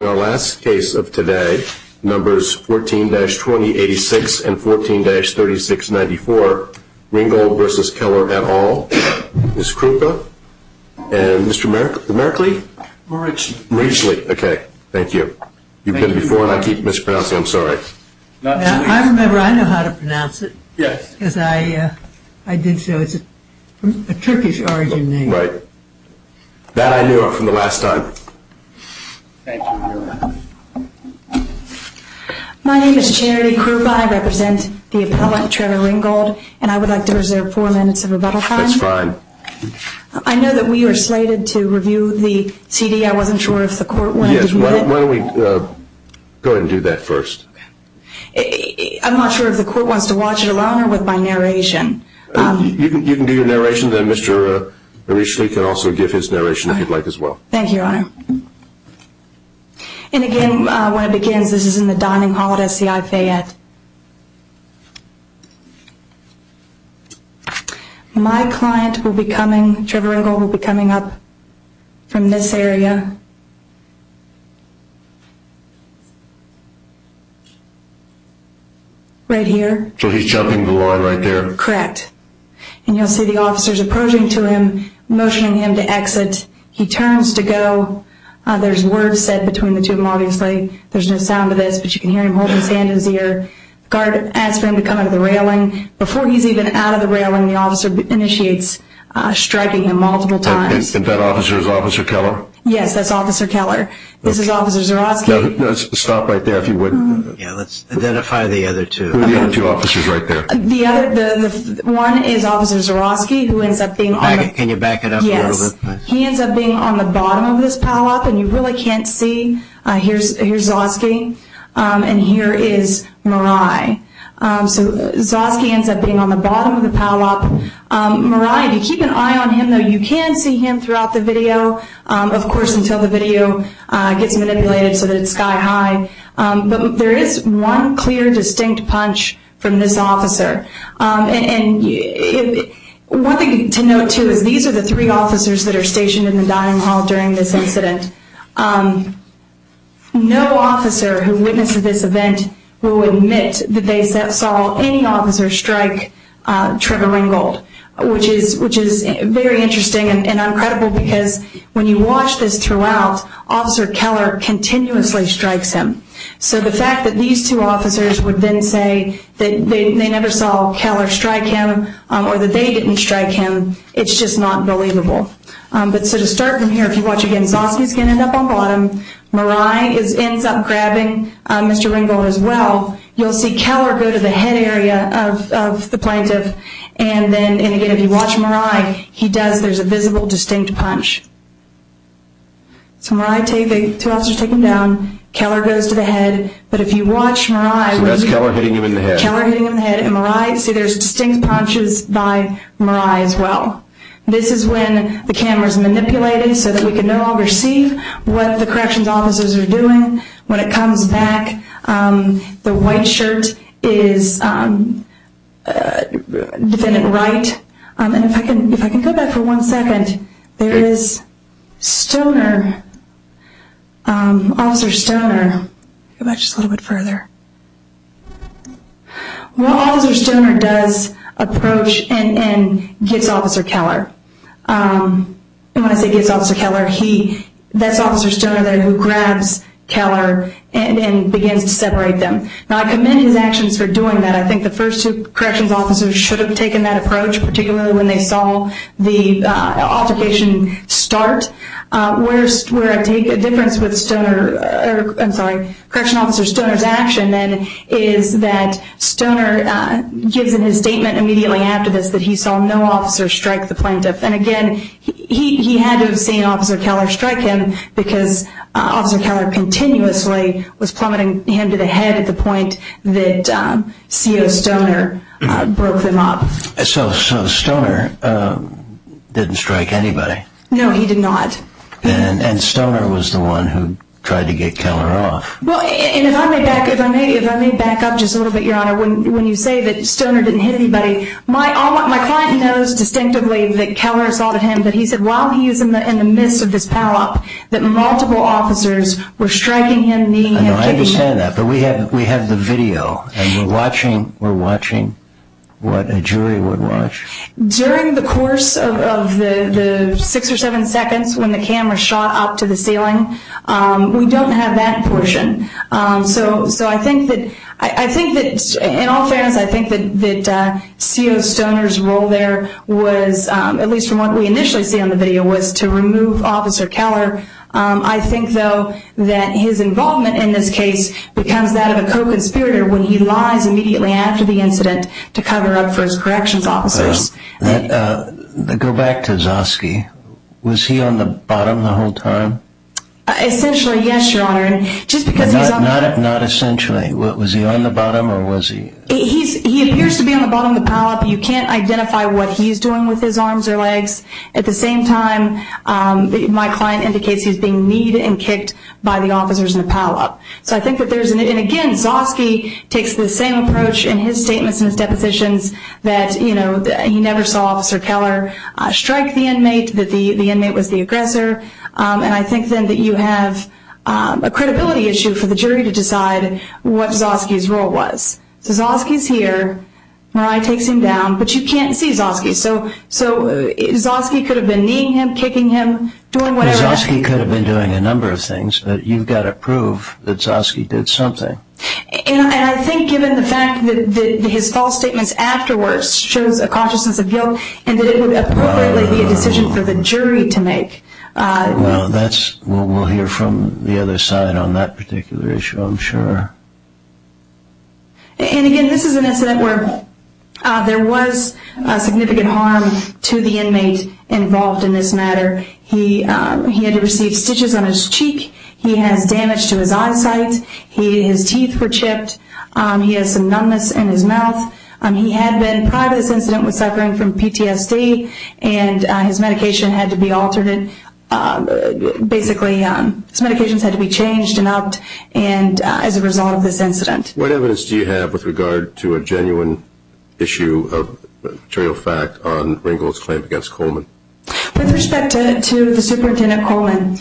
In our last case of today, numbers 14-2086 and 14-3694, Ringgold v. Keller et al., Ms. Krupa, and Mr. Merkley? Merichli. Merichli, okay, thank you. You've been before and I keep mispronouncing, I'm sorry. I remember, I know how to pronounce it. Yes. Because I did so, it's a Turkish origin name. Right. That I knew from the last time. Thank you, Your Honor. My name is Charity Krupa. I represent the appellate, Trevor Ringgold, and I would like to reserve four minutes of rebuttal time. That's fine. I know that we are slated to review the CD. I wasn't sure if the court wanted to do that. Yes, why don't we go ahead and do that first. Okay. I'm not sure if the court wants to watch it alone or with my narration. You can do your narration, then Mr. Merichli can also give his narration if you'd like as well. Thank you, Your Honor. And again, when it begins, this is in the dining hall at SCI Fayette. My client will be coming, Trevor Ringgold will be coming up from this area. Right here. So he's jumping the line right there? Correct. And you'll see the officers approaching to him, motioning him to exit. He turns to go. There's words said between the two of them, obviously. There's no sound to this, but you can hear him holding his hand in his ear. The guard asks for him to come out of the railing. Before he's even out of the railing, the officer initiates striking him multiple times. And that officer is Officer Keller? Yes, that's Officer Keller. This is Officer Zuroski. Stop right there if you would. Yeah, let's identify the other two. Who are the other two officers right there? The other one is Officer Zuroski, who ends up being on the bottom of this pileup. And you really can't see. Here's Zuroski, and here is Mirai. So Zuroski ends up being on the bottom of the pileup. Mirai, if you keep an eye on him, though, you can see him throughout the video. Of course, until the video gets manipulated so that it's sky high. But there is one clear, distinct punch from this officer. One thing to note, too, is these are the three officers that are stationed in the dining hall during this incident. No officer who witnessed this event will admit that they saw any officer strike Trevor Ringgold, which is very interesting and incredible because when you watch this throughout, Officer Keller continuously strikes him. So the fact that these two officers would then say that they never saw Keller strike him or that they didn't strike him, it's just not believable. So to start from here, if you watch again, Zuroski's going to end up on bottom. Mirai ends up grabbing Mr. Ringgold as well. You'll see Keller go to the head area of the plaintiff. And again, if you watch Mirai, there's a visible, distinct punch. So Mirai, the two officers take him down. Keller goes to the head. But if you watch Mirai... So that's Keller hitting him in the head. Keller hitting him in the head. And Mirai, see there's distinct punches by Mirai as well. This is when the camera's manipulated so that we can no longer see what the corrections officers are doing. When it comes back, the white shirt is Defendant Wright. And if I can go back for one second, there is Stoner, Officer Stoner. Go back just a little bit further. Well, Officer Stoner does approach and gets Officer Keller. And when I say gets Officer Keller, that's Officer Stoner there who grabs Keller and begins to separate them. Now, I commend his actions for doing that. I think the first two corrections officers should have taken that approach, particularly when they saw the altercation start. Where I take a difference with correction officer Stoner's action, then, is that Stoner gives in his statement immediately after this that he saw no officer strike the plaintiff. And again, he had to have seen Officer Keller strike him because Officer Keller continuously was plummeting him to the head at the point that CO Stoner broke them up. So Stoner didn't strike anybody? No, he did not. And Stoner was the one who tried to get Keller off? Well, and if I may back up just a little bit, Your Honor, when you say that Stoner didn't hit anybody, my client knows distinctively that Keller assaulted him. But he said while he was in the midst of this power-up that multiple officers were striking him, kneeling and kicking him. I understand that. But we have the video, and we're watching what a jury would watch. During the course of the six or seven seconds when the camera shot up to the ceiling, we don't have that portion. So I think that in all fairness, I think that CO Stoner's role there was, at least from what we initially see on the video, was to remove Officer Keller. I think, though, that his involvement in this case becomes that of a co-conspirator when he lies immediately after the incident to cover up for his corrections officers. Go back to Zosky. Was he on the bottom the whole time? Essentially, yes, Your Honor. Not essentially. Was he on the bottom or was he? He appears to be on the bottom of the power-up. You can't identify what he's doing with his arms or legs. At the same time, my client indicates he's being kneed and kicked by the officers in the power-up. So I think that there's, again, Zosky takes the same approach in his statements and his depositions that he never saw Officer Keller strike the inmate, that the inmate was the aggressor. And I think then that you have a credibility issue for the jury to decide what Zosky's role was. So Zosky's here. Mariah takes him down. But you can't see Zosky. So Zosky could have been kneeing him, kicking him, doing whatever. Zosky could have been doing a number of things, but you've got to prove that Zosky did something. And I think given the fact that his false statements afterwards shows a consciousness of guilt and that it would appropriately be a decision for the jury to make. Well, we'll hear from the other side on that particular issue, I'm sure. And, again, this is an incident where there was significant harm to the inmate involved in this matter. He had to receive stitches on his cheek. He has damage to his eyesight. His teeth were chipped. He has some numbness in his mouth. He had been, prior to this incident, was suffering from PTSD, and his medication had to be altered. Basically, his medications had to be changed and upped as a result of this incident. What evidence do you have with regard to a genuine issue of material fact on Ringgold's claim against Coleman? With respect to the Superintendent Coleman,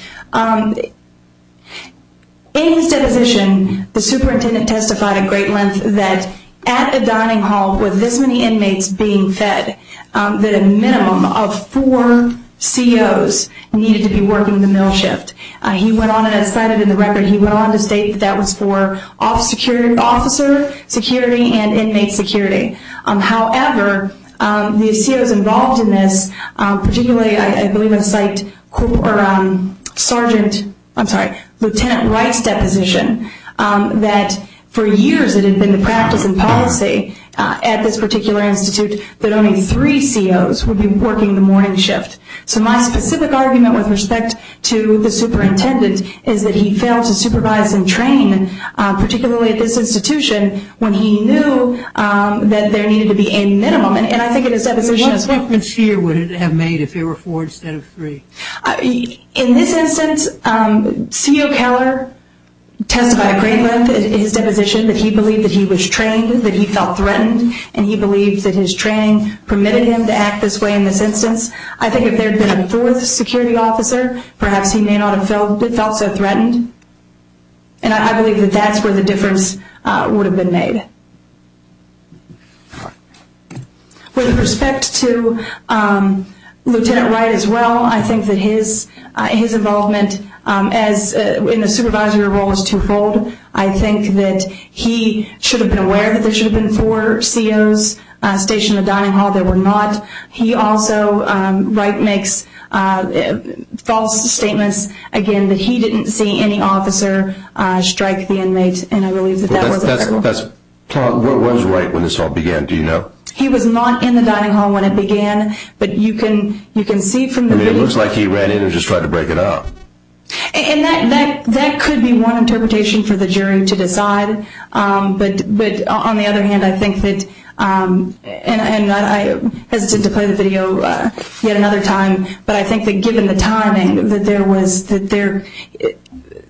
in his deposition, the superintendent testified at great length that at a dining hall with this many inmates being fed, that a minimum of four COs needed to be working the meal shift. He went on and cited in the record, he went on to state that that was for officer security and inmate security. However, the COs involved in this, particularly, I believe, have cited Lieutenant Wright's deposition that for years it had been the practice and policy at this particular institute that only three COs would be working the morning shift. So my specific argument with respect to the superintendent is that he failed to supervise and train, particularly at this institution, when he knew that there needed to be a minimum. What difference here would it have made if there were four instead of three? In this instance, CO Keller testified at great length in his deposition that he believed that he was trained, that he felt threatened, and he believed that his training permitted him to act this way in this instance. I think if there had been a fourth security officer, perhaps he may not have felt so threatened. And I believe that that's where the difference would have been made. With respect to Lieutenant Wright as well, I think that his involvement in the supervisory role is twofold. I think that he should have been aware that there should have been four COs stationed in the dining hall. There were not. He also, Wright makes false statements, again, that he didn't see any officer strike the inmate, and I believe that that was the case. What was Wright when this all began, do you know? He was not in the dining hall when it began, but you can see from the video. It looks like he ran in and just tried to break it up. That could be one interpretation for the jury to decide. But on the other hand, I think that, and I hesitate to play the video yet another time, but I think that given the timing, that there was, that there,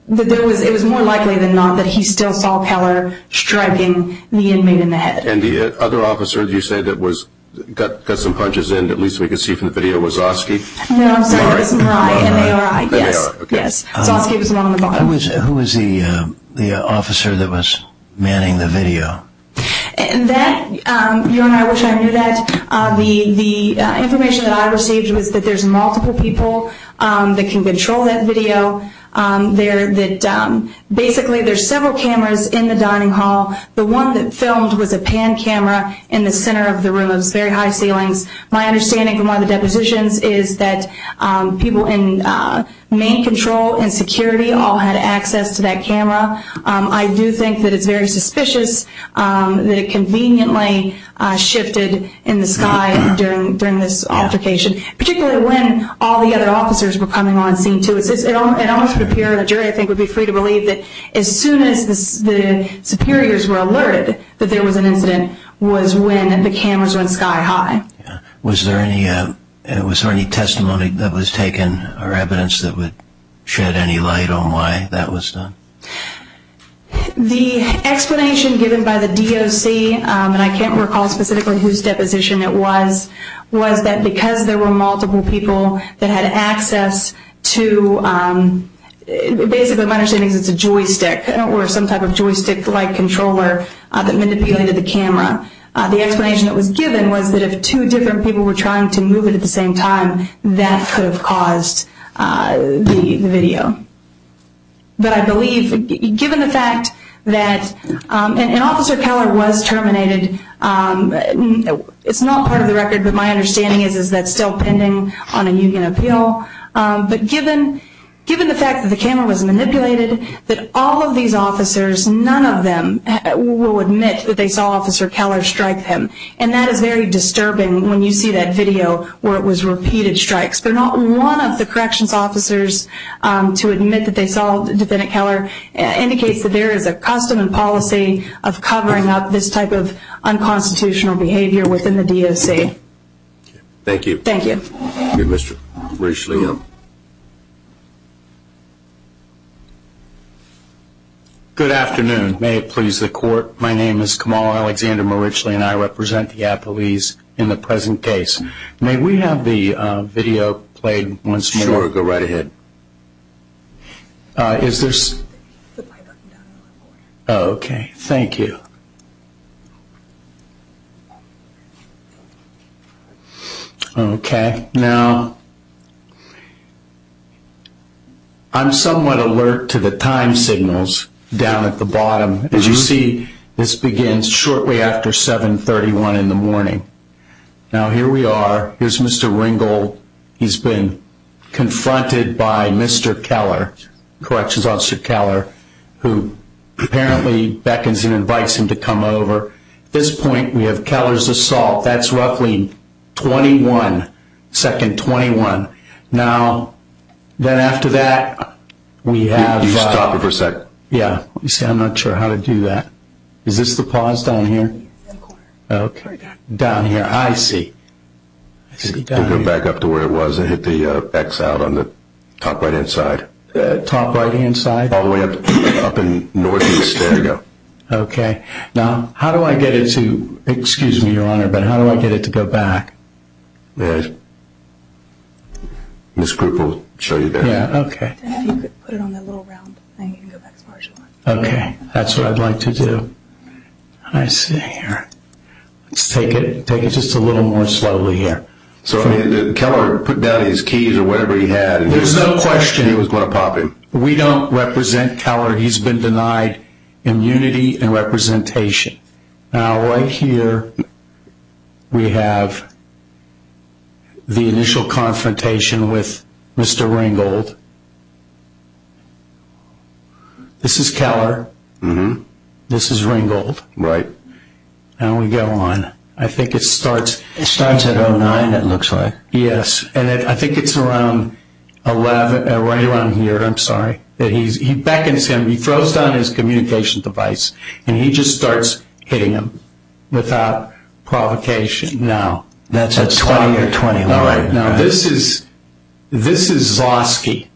that there was, it was more likely than not that he still saw Keller striking the inmate in the head. And the other officer, you say, that was, got some punches in, at least we can see from the video, was Zosky? No, I'm sorry, it was Mirai, M-A-R-I. M-A-R-I, okay. Yes, Zosky was the one on the bottom. Who was the officer that was manning the video? That, you know, I wish I knew that. The information that I received was that there's multiple people that can control that video. Basically, there's several cameras in the dining hall. The one that filmed was a pan camera in the center of the room. It was very high ceilings. My understanding from one of the depositions is that people in main control and security all had access to that camera. I do think that it's very suspicious that it conveniently shifted in the sky during this altercation, particularly when all the other officers were coming on scene, too. It almost would appear, the jury, I think, would be free to believe that as soon as the superiors were alerted that there was an incident was when the cameras went sky high. Was there any testimony that was taken or evidence that would shed any light on why that was done? The explanation given by the DOC, and I can't recall specifically whose deposition it was, was that because there were multiple people that had access to, basically my understanding is it's a joystick or some type of joystick-like controller that manipulated the camera. The explanation that was given was that if two different people were trying to move it at the same time, that could have caused the video. But I believe, given the fact that an officer was terminated, it's not part of the record, but my understanding is that's still pending on a union appeal. But given the fact that the camera was manipulated, that all of these officers, none of them will admit that they saw Officer Keller strike them. And that is very disturbing when you see that video where it was repeated strikes. But not one of the corrections officers to admit that they saw Defendant Keller indicates that there is a custom and policy of covering up this type of unconstitutional behavior within the DOC. Thank you. Thank you. Thank you, Mr. Richley. Good afternoon. May it please the Court. My name is Kamal Alexander Richley, and I represent the Appalachians in the present case. May we have the video played once more? Sure. Go right ahead. Is there? Okay. Thank you. Okay. Now, I'm somewhat alert to the time signals down at the bottom. As you see, this begins shortly after 731 in the morning. Now, here we are. Here's Mr. Ringel. He's been confronted by Mr. Keller, Corrections Officer Keller, who apparently beckons and invites him to come over. At this point, we have Keller's assault. That's roughly 21, second 21. Now, then after that, we have... Could you stop it for a second? Yeah. You see, I'm not sure how to do that. Is this the pause down here? Okay. Down here, I see. I see down here. Go back up to where it was and hit the X out on the top right-hand side. Top right-hand side? All the way up in northeast. There you go. Okay. Now, how do I get it to, excuse me, Your Honor, but how do I get it to go back? May I? This group will show you there. Yeah, okay. If you could put it on the little round thing, you can go back as far as you want. Okay. That's what I'd like to do. I see here. Let's take it just a little more slowly here. So, I mean, did Keller put down his keys or whatever he had? There's no question. He was going to pop him. We don't represent Keller. He's been denied immunity and representation. Now, right here, we have the initial confrontation with Mr. Ringgold. This is Keller. This is Ringgold. Right. Now we go on. I think it starts at 09, it looks like. Yes, and I think it's right around here. I'm sorry. He beckons him. He throws down his communication device, and he just starts hitting him without provocation. No. That's at 20 or 21. All right, now this is Zosky,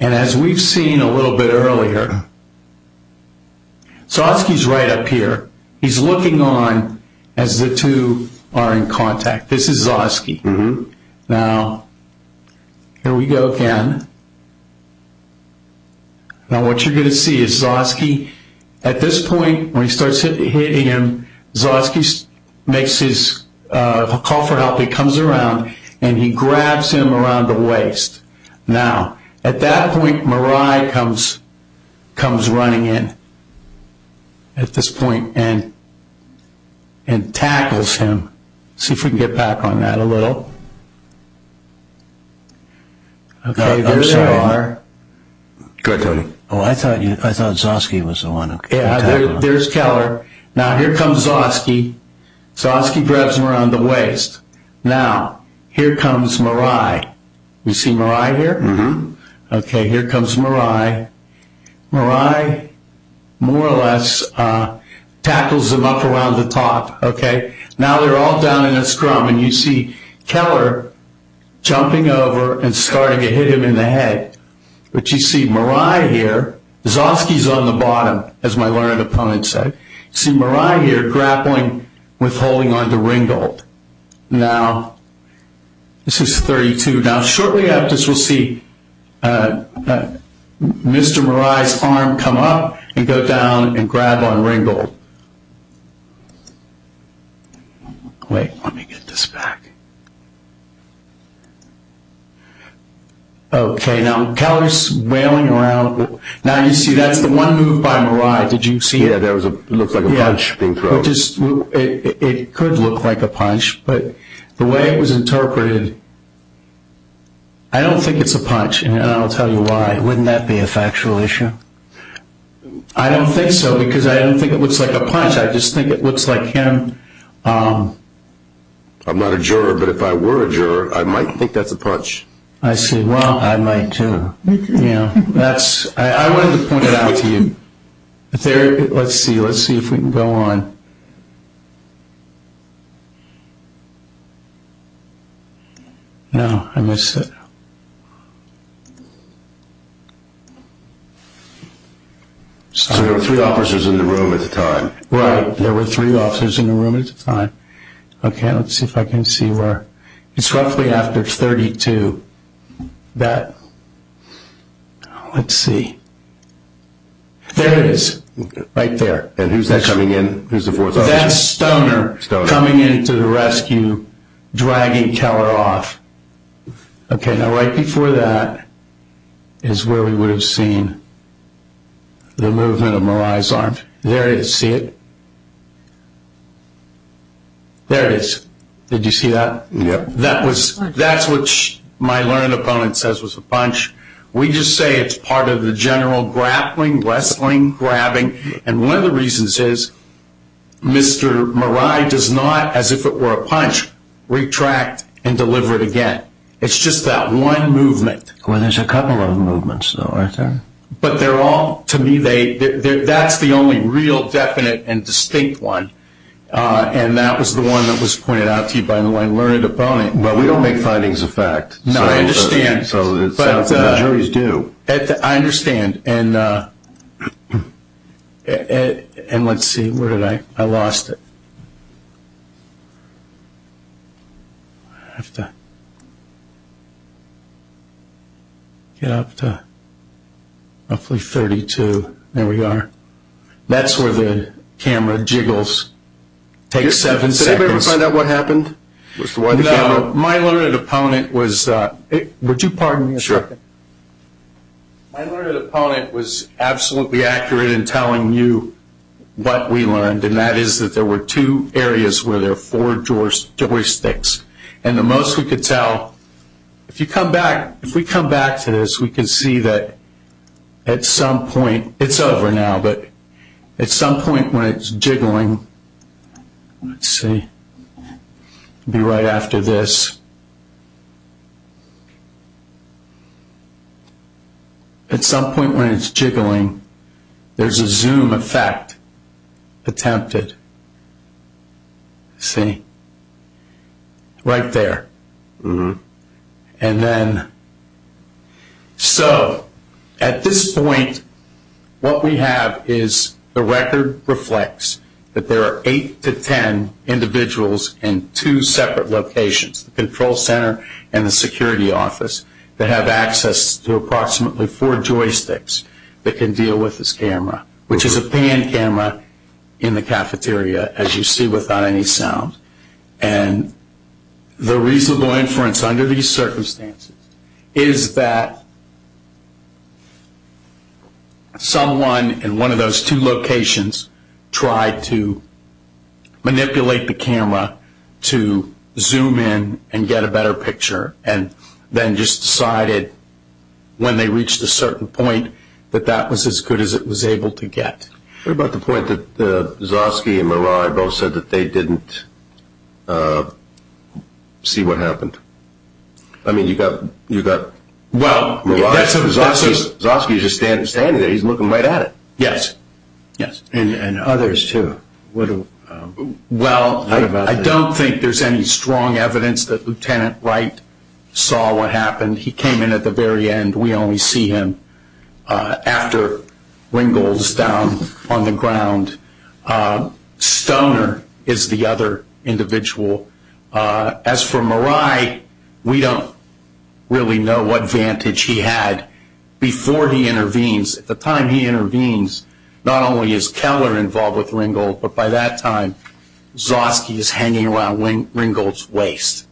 and as we've seen a little bit earlier, Zosky's right up here. He's looking on as the two are in contact. This is Zosky. Now, here we go again. Now what you're going to see is Zosky, at this point, when he starts hitting him, Zosky makes his call for help. He comes around, and he grabs him around the waist. Now, at that point, Mirai comes running in at this point and tackles him. See if we can get back on that a little. Okay, there they are. Go ahead, Tony. Oh, I thought Zosky was the one. There's Keller. Now, here comes Zosky. Zosky grabs him around the waist. Now, here comes Mirai. You see Mirai here? Mm-hmm. Okay, here comes Mirai. Mirai, more or less, tackles him up around the top. Now they're all down in a scrum, and you see Keller jumping over and starting to hit him in the head. But you see Mirai here. Zosky's on the bottom, as my learned opponent said. You see Mirai here grappling, withholding onto Ringgold. Now, this is 32. Now, shortly after this, we'll see Mr. Mirai's arm come up and go down and grab on Ringgold. Wait, let me get this back. Okay, now Keller's wailing around. Now, you see, that's the one move by Mirai. Did you see it? Yeah, that looks like a punch being thrown. It could look like a punch, but the way it was interpreted, I don't think it's a punch, and I'll tell you why. Wouldn't that be a factual issue? I don't think so, because I don't think it looks like a punch. I just think it looks like him. I'm not a juror, but if I were a juror, I might think that's a punch. I see. Well, I might, too. I wanted to point it out to you. Let's see if we can go on. No, I missed it. So there were three officers in the room at the time. Right, there were three officers in the room at the time. Okay, let's see if I can see where. It's roughly after 32. Let's see. There it is, right there. And who's that coming in? Who's the fourth officer? That's Stoner coming in to the rescue, dragging Keller off. Okay, now right before that is where we would have seen the movement of Mirai's arms. There it is. See it? There it is. Did you see that? Yep. That's what my learned opponent says was a punch. We just say it's part of the general grappling, wrestling, grabbing, and one of the reasons is Mr. Mirai does not, as if it were a punch, retract and deliver it again. It's just that one movement. Well, there's a couple of movements, though, aren't there? But they're all, to me, that's the only real definite and distinct one, and that was the one that was pointed out to you by the learned opponent. Well, we don't make findings of fact. No, I understand. So the juries do. I understand, and let's see. Where did I? I lost it. I have to get up to roughly 32. There we are. That's where the camera jiggles. Takes seven seconds. Did anybody find out what happened? My learned opponent was – would you pardon me a second? Sure. My learned opponent was absolutely accurate in telling you what we learned, and that is that there were two areas where there were four joysticks, and the most we could tell – if you come back, if we come back to this, we can see that at some point – it's over now, but at some point when it's jiggling, let's see, be right after this. At some point when it's jiggling, there's a zoom effect attempted. See? Right there. And then – so at this point, what we have is the record reflects that there are eight to ten individuals in two separate locations, the control center and the security office, that have access to approximately four joysticks that can deal with this camera, which is a pan camera in the cafeteria, as you see, without any sound. And the reasonable inference under these circumstances is that someone in one of those two locations tried to manipulate the camera to zoom in and get a better picture, and then just decided when they reached a certain point that that was as good as it was able to get. What about the point that Zosky and Mirai both said that they didn't see what happened? I mean, you've got Mirai and Zosky just standing there. He's looking right at it. Yes. Yes. And others, too. Well, I don't think there's any strong evidence that Lieutenant Wright saw what happened. He came in at the very end. We only see him after Ringgold's down on the ground. Stoner is the other individual. As for Mirai, we don't really know what vantage he had before he intervenes. At the time he intervenes, not only is Keller involved with Ringgold, but by that time, Zosky is hanging around Ringgold's waist.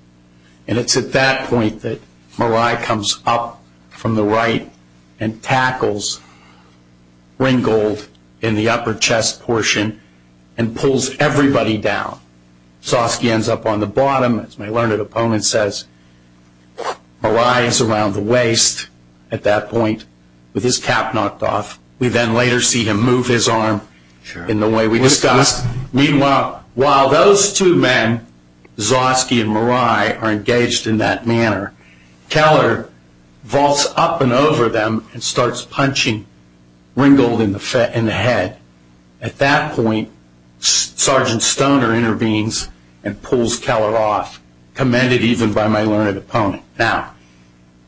And it's at that point that Mirai comes up from the right and tackles Ringgold in the upper chest portion and pulls everybody down. Zosky ends up on the bottom, as my learned opponent says. Mirai is around the waist at that point with his cap knocked off. We then later see him move his arm in the way we discussed. Meanwhile, while those two men, Zosky and Mirai, are engaged in that manner, Keller vaults up and over them and starts punching Ringgold in the head. At that point, Sergeant Stoner intervenes and pulls Keller off, commended even by my learned opponent. Now,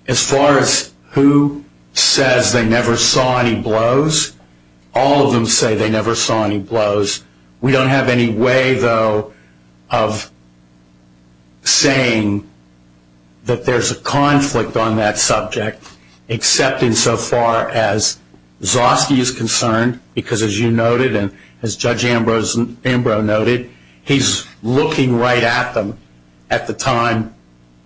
as far as who says they never saw any blows, all of them say they never saw any blows. We don't have any way, though, of saying that there's a conflict on that subject, except insofar as Zosky is concerned, because as you noted and as Judge Ambrose noted, he's looking right at them at the time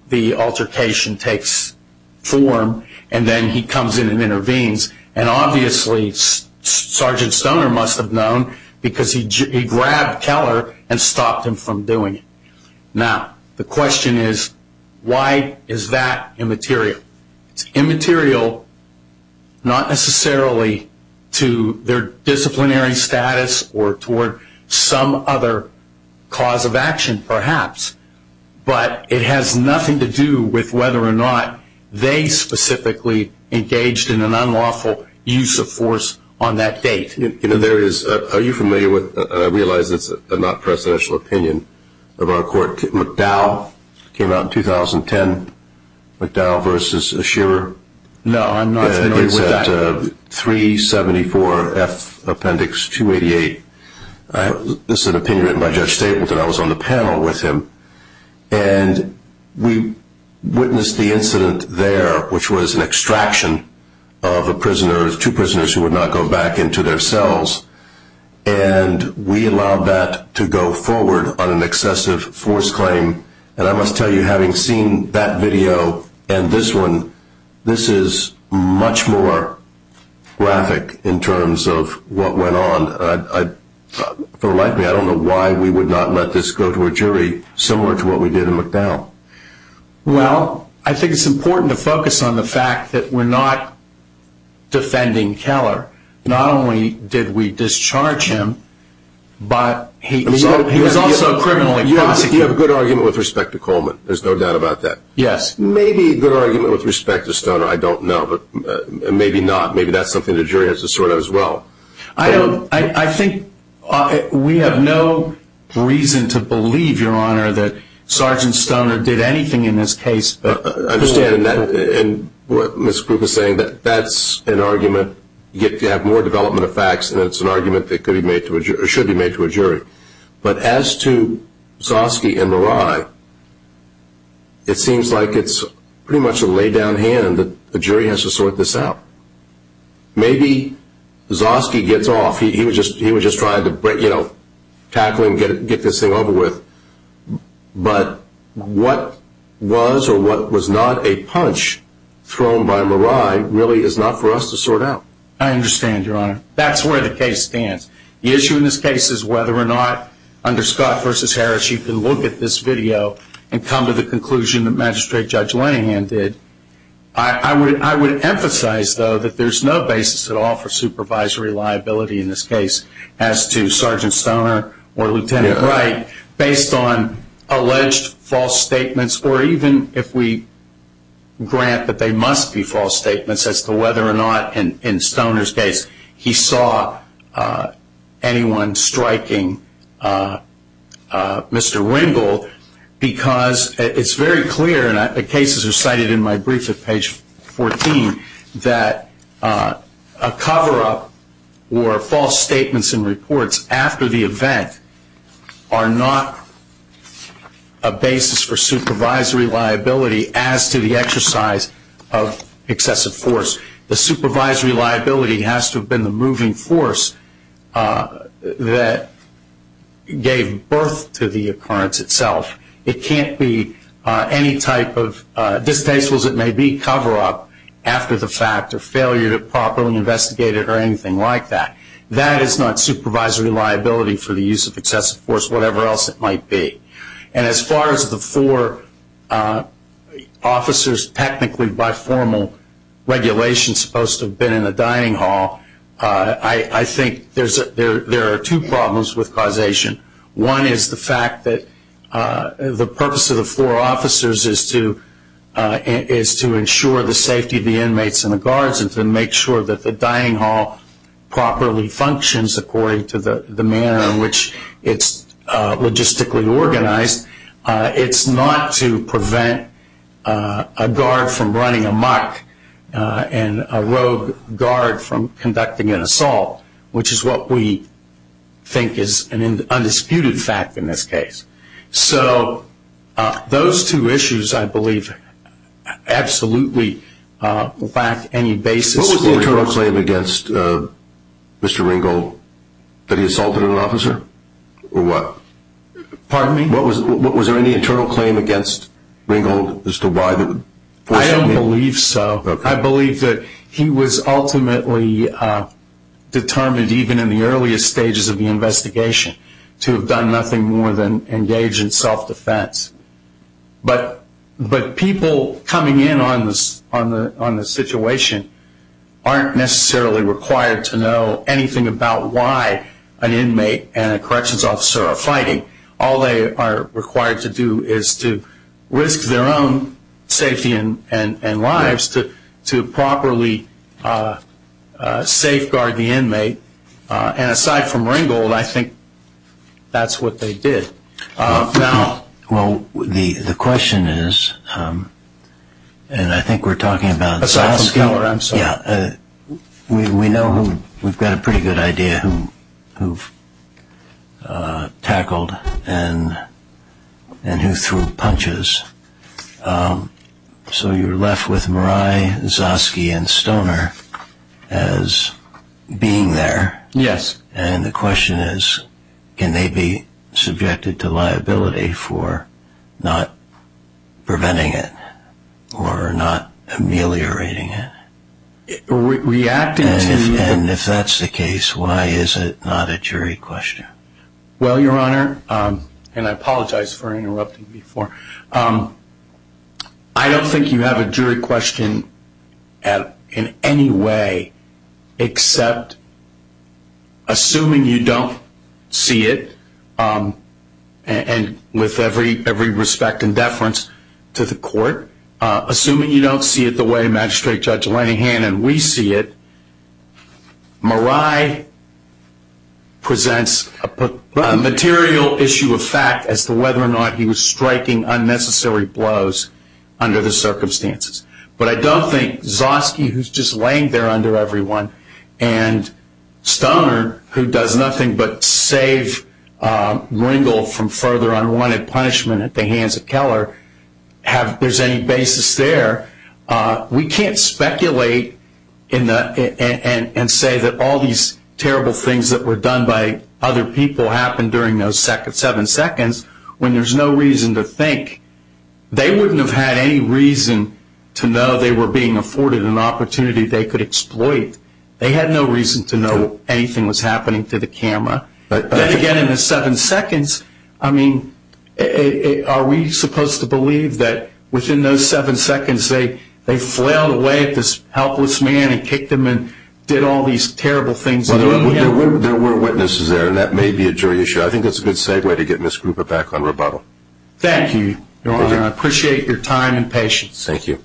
the altercation takes form, and then he comes in and intervenes. Obviously, Sergeant Stoner must have known because he grabbed Keller and stopped him from doing it. Now, the question is, why is that immaterial? It's immaterial not necessarily to their disciplinary status or toward some other cause of action, perhaps, but it has nothing to do with whether or not they specifically engaged in an unlawful use of force on that date. Are you familiar with, and I realize it's not a presidential opinion, about a court, McDowell, came out in 2010, McDowell v. Scherer. No, I'm not familiar with that. It's at 374F Appendix 288. This is an opinion written by Judge Stapleton. I was on the panel with him, and we witnessed the incident there, which was an extraction of two prisoners who would not go back into their cells, and we allowed that to go forward on an excessive force claim. And I must tell you, having seen that video and this one, this is much more graphic in terms of what went on. For the life of me, I don't know why we would not let this go to a jury similar to what we did in McDowell. Well, I think it's important to focus on the fact that we're not defending Keller. Not only did we discharge him, but he was also criminally prosecuted. You have a good argument with respect to Coleman. There's no doubt about that. Yes. Maybe a good argument with respect to Stoner, I don't know, but maybe not. Maybe that's something the jury has to sort out as well. I think we have no reason to believe, Your Honor, that Sergeant Stoner did anything in this case. I understand, and what Ms. Krupa is saying, that's an argument. You have to have more development of facts, and it's an argument that should be made to a jury. But as to Zosky and Mirai, it seems like it's pretty much a laid-down hand that the jury has to sort this out. Maybe Zosky gets off. He was just trying to tackle him and get this thing over with. But what was or what was not a punch thrown by Mirai really is not for us to sort out. I understand, Your Honor. That's where the case stands. The issue in this case is whether or not under Scott v. Harris you can look at this video and come to the conclusion that Magistrate Judge Lenihan did. I would emphasize, though, that there's no basis at all for supervisory liability in this case as to Sergeant Stoner or Lieutenant Wright based on alleged false statements or even if we grant that they must be false statements as to whether or not in Stoner's case he saw anyone striking Mr. Ringel because it's very clear, and the cases are cited in my brief at page 14, that a cover-up or false statements and reports after the event are not a basis for supervisory liability as to the exercise of excessive force. The supervisory liability has to have been the moving force that gave birth to the occurrence itself. It can't be any type of distasteful as it may be cover-up after the fact or failure to properly investigate it or anything like that. That is not supervisory liability for the use of excessive force, whatever else it might be. And as far as the four officers technically by formal regulation supposed to have been in the dining hall, I think there are two problems with causation. One is the fact that the purpose of the four officers is to ensure the safety of the inmates and the guards and to make sure that the dining hall properly functions according to the manner in which it's logistically organized. It's not to prevent a guard from running amok and a rogue guard from conducting an assault, which is what we think is an undisputed fact in this case. So those two issues, I believe, absolutely lack any basis. What was the internal claim against Mr. Ringgold? That he assaulted an officer? Or what? Pardon me? Was there any internal claim against Ringgold as to why? I don't believe so. I believe that he was ultimately determined, even in the earliest stages of the investigation, to have done nothing more than engage in self-defense. But people coming in on the situation aren't necessarily required to know anything All they are required to do is to risk their own safety and lives to properly safeguard the inmate. And aside from Ringgold, I think that's what they did. Well, the question is, and I think we're talking about Soskin. Aside from Keller, I'm sorry. Yeah. We know we've got a pretty good idea who tackled and who threw punches. So you're left with Murai, Soskin, and Stoner as being there. Yes. And the question is, can they be subjected to liability for not preventing it or not ameliorating it? Reacting to you. And if that's the case, why is it not a jury question? Well, Your Honor, and I apologize for interrupting before, I don't think you have a jury question in any way except assuming you don't see it, and with every respect and deference to the court, assuming you don't see it the way Magistrate Judge Lenahan and we see it, Murai presents a material issue of fact as to whether or not he was striking unnecessary blows under the circumstances. But I don't think Soskin, who's just laying there under everyone, and Stoner, who does nothing but save Ringel from further unwanted punishment at the hands of Keller, there's any basis there. We can't speculate and say that all these terrible things that were done by other people happened during those seven seconds when there's no reason to think. They wouldn't have had any reason to know they were being afforded an opportunity they could exploit. They had no reason to know anything was happening to the camera. Then again, in the seven seconds, I mean, are we supposed to believe that within those seven seconds they flailed away at this helpless man and kicked him and did all these terrible things? There were witnesses there, and that may be a jury issue. I think that's a good segue to get Ms. Gruber back on rebuttal. Thank you, Your Honor. I appreciate your time and patience. Thank you.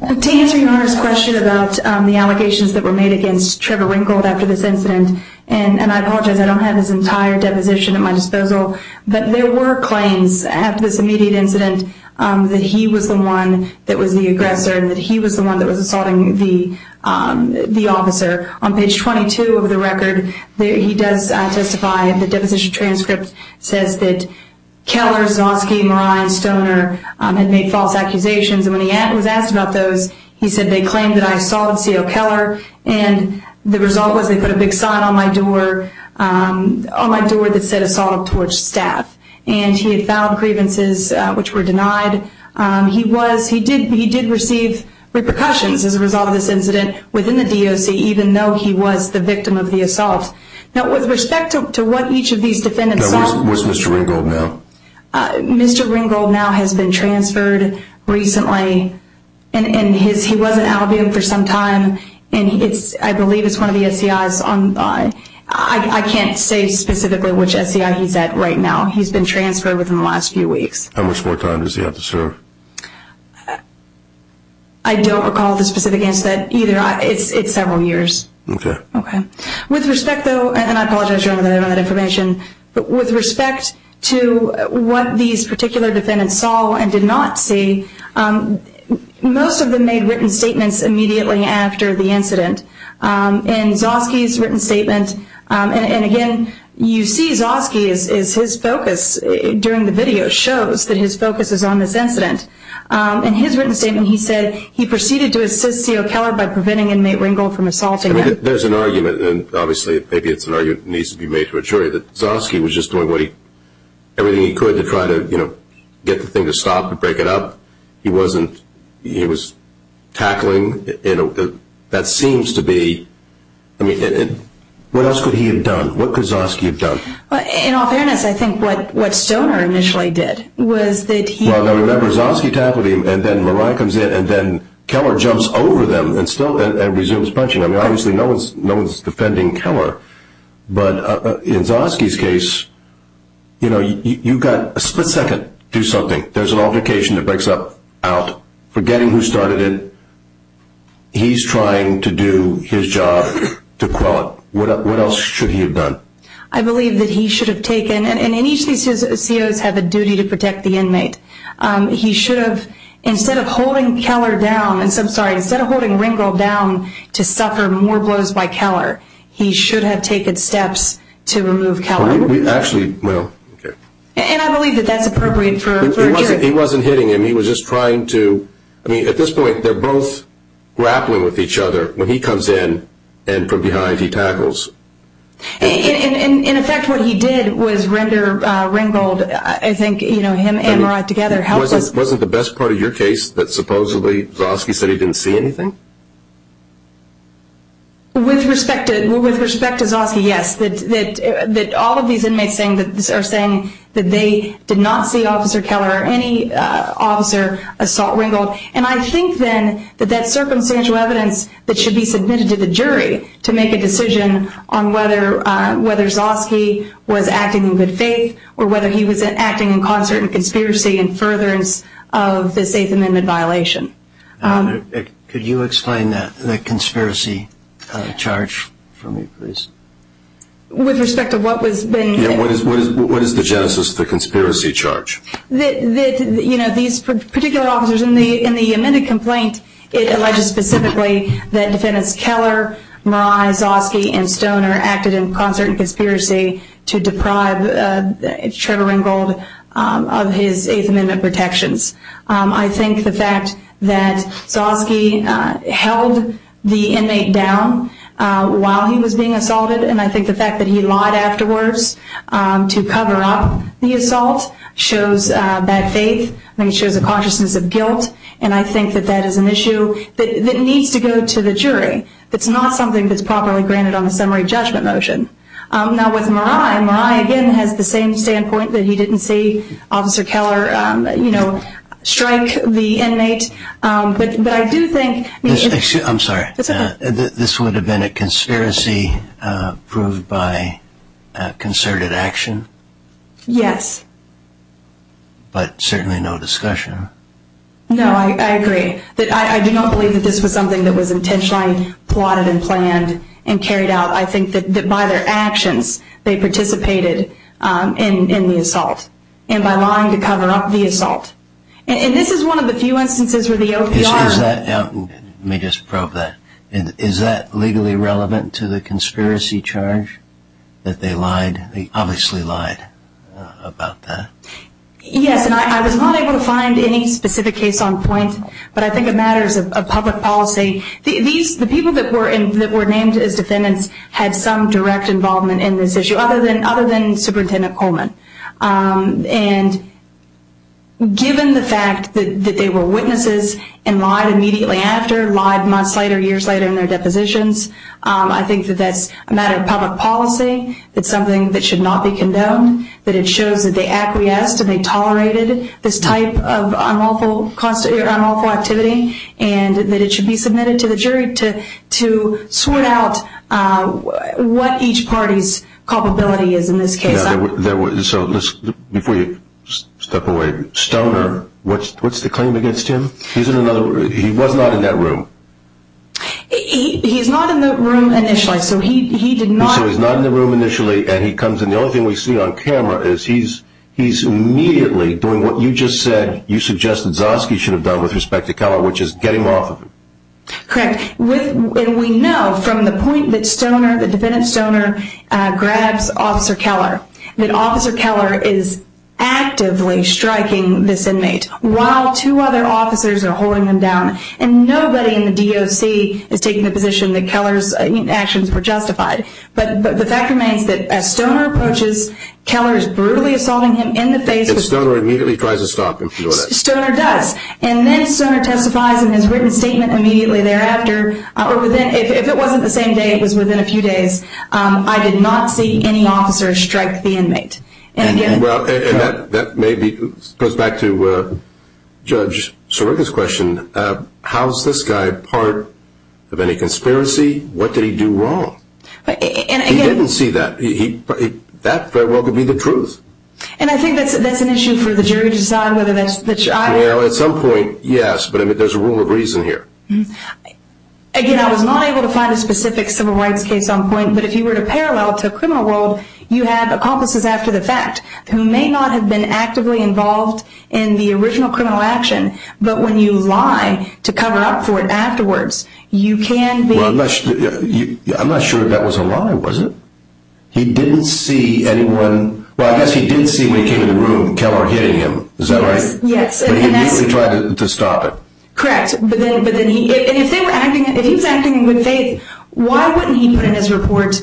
To answer Your Honor's question about the allegations that were made against Trevor Ringel after this incident, and I apologize, I don't have his entire deposition at my disposal, but there were claims after this immediate incident that he was the one that was the aggressor and that he was the one that was assaulting the officer. On page 22 of the record, he does testify in the deposition transcript, says that Keller, Zosky, Marai, and Stoner had made false accusations, and when he was asked about those, he said they claimed that I assaulted C.O. Keller, and the result was they put a big sign on my door that said, Assault of Torch Staff. And he had filed grievances which were denied. He did receive repercussions as a result of this incident within the DOC, even though he was the victim of the assault. Now, with respect to what each of these defendants saw. Was Mr. Ringel now? Mr. Ringel now has been transferred recently, and he was in Albion for some time, and I believe it's one of the SEIs. I can't say specifically which SEI he's at right now. He's been transferred within the last few weeks. How much more time does he have to serve? I don't recall the specific incident either. It's several years. Okay. Okay. With respect, though, and I apologize for the information, but with respect to what these particular defendants saw and did not see, most of them made written statements immediately after the incident. In Zosky's written statement, and again, you see Zosky, is his focus during the video shows that his focus is on this incident. In his written statement, he said he proceeded to assist CO Keller by preventing inmate Ringel from assaulting him. There's an argument, and obviously maybe it's an argument that needs to be made to a jury, that Zosky was just doing everything he could to try to get the thing to stop and break it up. He wasn't. He was tackling. That seems to be. I mean, what else could he have done? What could Zosky have done? In all fairness, I think what Stoner initially did was that he... Well, now, remember, Zosky tackled him, and then Merai comes in, and then Keller jumps over them and still resumes punching. I mean, obviously no one's defending Keller. But in Zosky's case, you know, you've got a split second to do something. There's an altercation that breaks up out. Forgetting who started it, he's trying to do his job to quell it. What else should he have done? I believe that he should have taken... And each of these COs have a duty to protect the inmate. He should have... Instead of holding Keller down... I'm sorry. Instead of holding Ringel down to suffer more blows by Keller, he should have taken steps to remove Keller. Actually, well... And I believe that that's appropriate for a jury. He wasn't hitting him. He was just trying to... I mean, at this point, they're both grappling with each other. When he comes in and from behind, he tackles. And, in effect, what he did was render Ringel... I think, you know, him and Wright together... Wasn't the best part of your case that supposedly Zosky said he didn't see anything? With respect to Zosky, yes. That all of these inmates are saying that they did not see Officer Keller or any officer assault Ringel. And I think, then, that that's circumstantial evidence that should be submitted to the jury to make a decision on whether Zosky was acting in good faith or whether he was acting in concert in conspiracy and furtherance of the Safe Amendment violation. Could you explain that conspiracy charge for me, please? With respect to what was being... Yeah, what is the genesis of the conspiracy charge? You know, these particular officers... In the amended complaint, it alleges specifically that Defendants Keller, Murai, Zosky, and Stoner acted in concert in conspiracy to deprive Trevor Ringel of his Eighth Amendment protections. I think the fact that Zosky held the inmate down while he was being assaulted and I think the fact that he lied afterwards to cover up the assault shows bad faith. I mean, it shows a consciousness of guilt. And I think that that is an issue that needs to go to the jury. It's not something that's properly granted on a summary judgment motion. Now, with Murai, Murai, again, has the same standpoint that he didn't see Officer Keller strike the inmate. But I do think... I'm sorry. It's okay. This would have been a conspiracy proved by concerted action? Yes. But certainly no discussion. No, I agree. I do not believe that this was something that was intentionally plotted and planned and carried out. I think that by their actions, they participated in the assault and by lying to cover up the assault. And this is one of the few instances where the OPR... Let me just probe that. Is that legally relevant to the conspiracy charge that they lied? They obviously lied about that. Yes, and I was not able to find any specific case on point, but I think it matters of public policy. The people that were named as defendants had some direct involvement in this issue other than Superintendent Coleman. And given the fact that they were witnesses and lied immediately after, lied months later, years later in their depositions, I think that that's a matter of public policy. It's something that should not be condoned. That it shows that they acquiesced and they tolerated this type of unlawful activity and that it should be submitted to the jury to sort out what each party's culpability is in this case. Before you step away, Stoner, what's the claim against him? He was not in that room. He's not in the room initially, so he did not... So he's not in the room initially and he comes in. The only thing we see on camera is he's immediately doing what you just said, you suggested Zosky should have done with respect to Keller, which is get him off of him. Correct. And we know from the point that Stoner, the defendant Stoner, grabs Officer Keller, that Officer Keller is actively striking this inmate while two other officers are holding him down. And nobody in the DOC is taking the position that Keller's actions were justified. But the fact remains that as Stoner approaches, Keller is brutally assaulting him in the face... And Stoner immediately tries to stop him. Stoner does. And then Stoner testifies in his written statement immediately thereafter. If it wasn't the same day, it was within a few days. I did not see any officer strike the inmate. And that maybe goes back to Judge Sirica's question. How is this guy part of any conspiracy? What did he do wrong? That very well could be the truth. And I think that's an issue for the jury to decide. Well, at some point, yes, but there's a rule of reason here. Again, I was not able to find a specific civil rights case on point, but if you were to parallel it to a criminal world, you have accomplices after the fact who may not have been actively involved in the original criminal action, but when you lie to cover up for it afterwards, you can be... I'm not sure if that was a lie, was it? He didn't see anyone... Well, I guess he did see when he came into the room Keller hitting him. Is that right? Yes. But he immediately tried to stop it. Correct. But then if he was acting in good faith, why wouldn't he put in his report,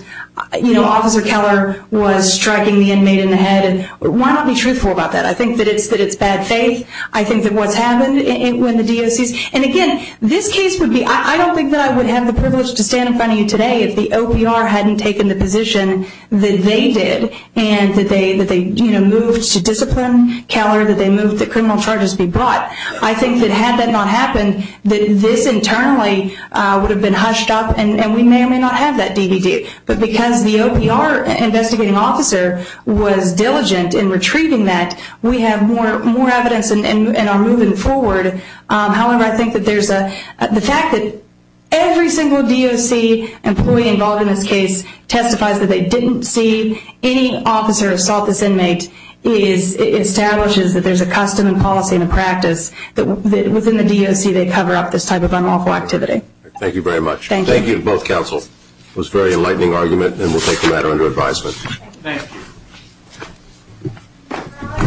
you know, Officer Keller was striking the inmate in the head? Why not be truthful about that? I think that it's bad faith. I think that what's happened when the DOC... And again, this case would be... I don't think that I would have the privilege to stand in front of you today if the OPR hadn't taken the position that they did and that they moved to discipline Keller, that they moved the criminal charges to be brought. I think that had that not happened, that this internally would have been hushed up and we may or may not have that DVD. But because the OPR investigating officer was diligent in retrieving that, we have more evidence and are moving forward. However, I think that there's a... The fact that every single DOC employee involved in this case testifies that they didn't see any officer assault this inmate establishes that there's a custom and policy and a practice that within the DOC they cover up this type of unlawful activity. Thank you very much. Thank you. Thank you to both counsels. It was a very enlightening argument, and we'll take the matter under advisement. Thank you.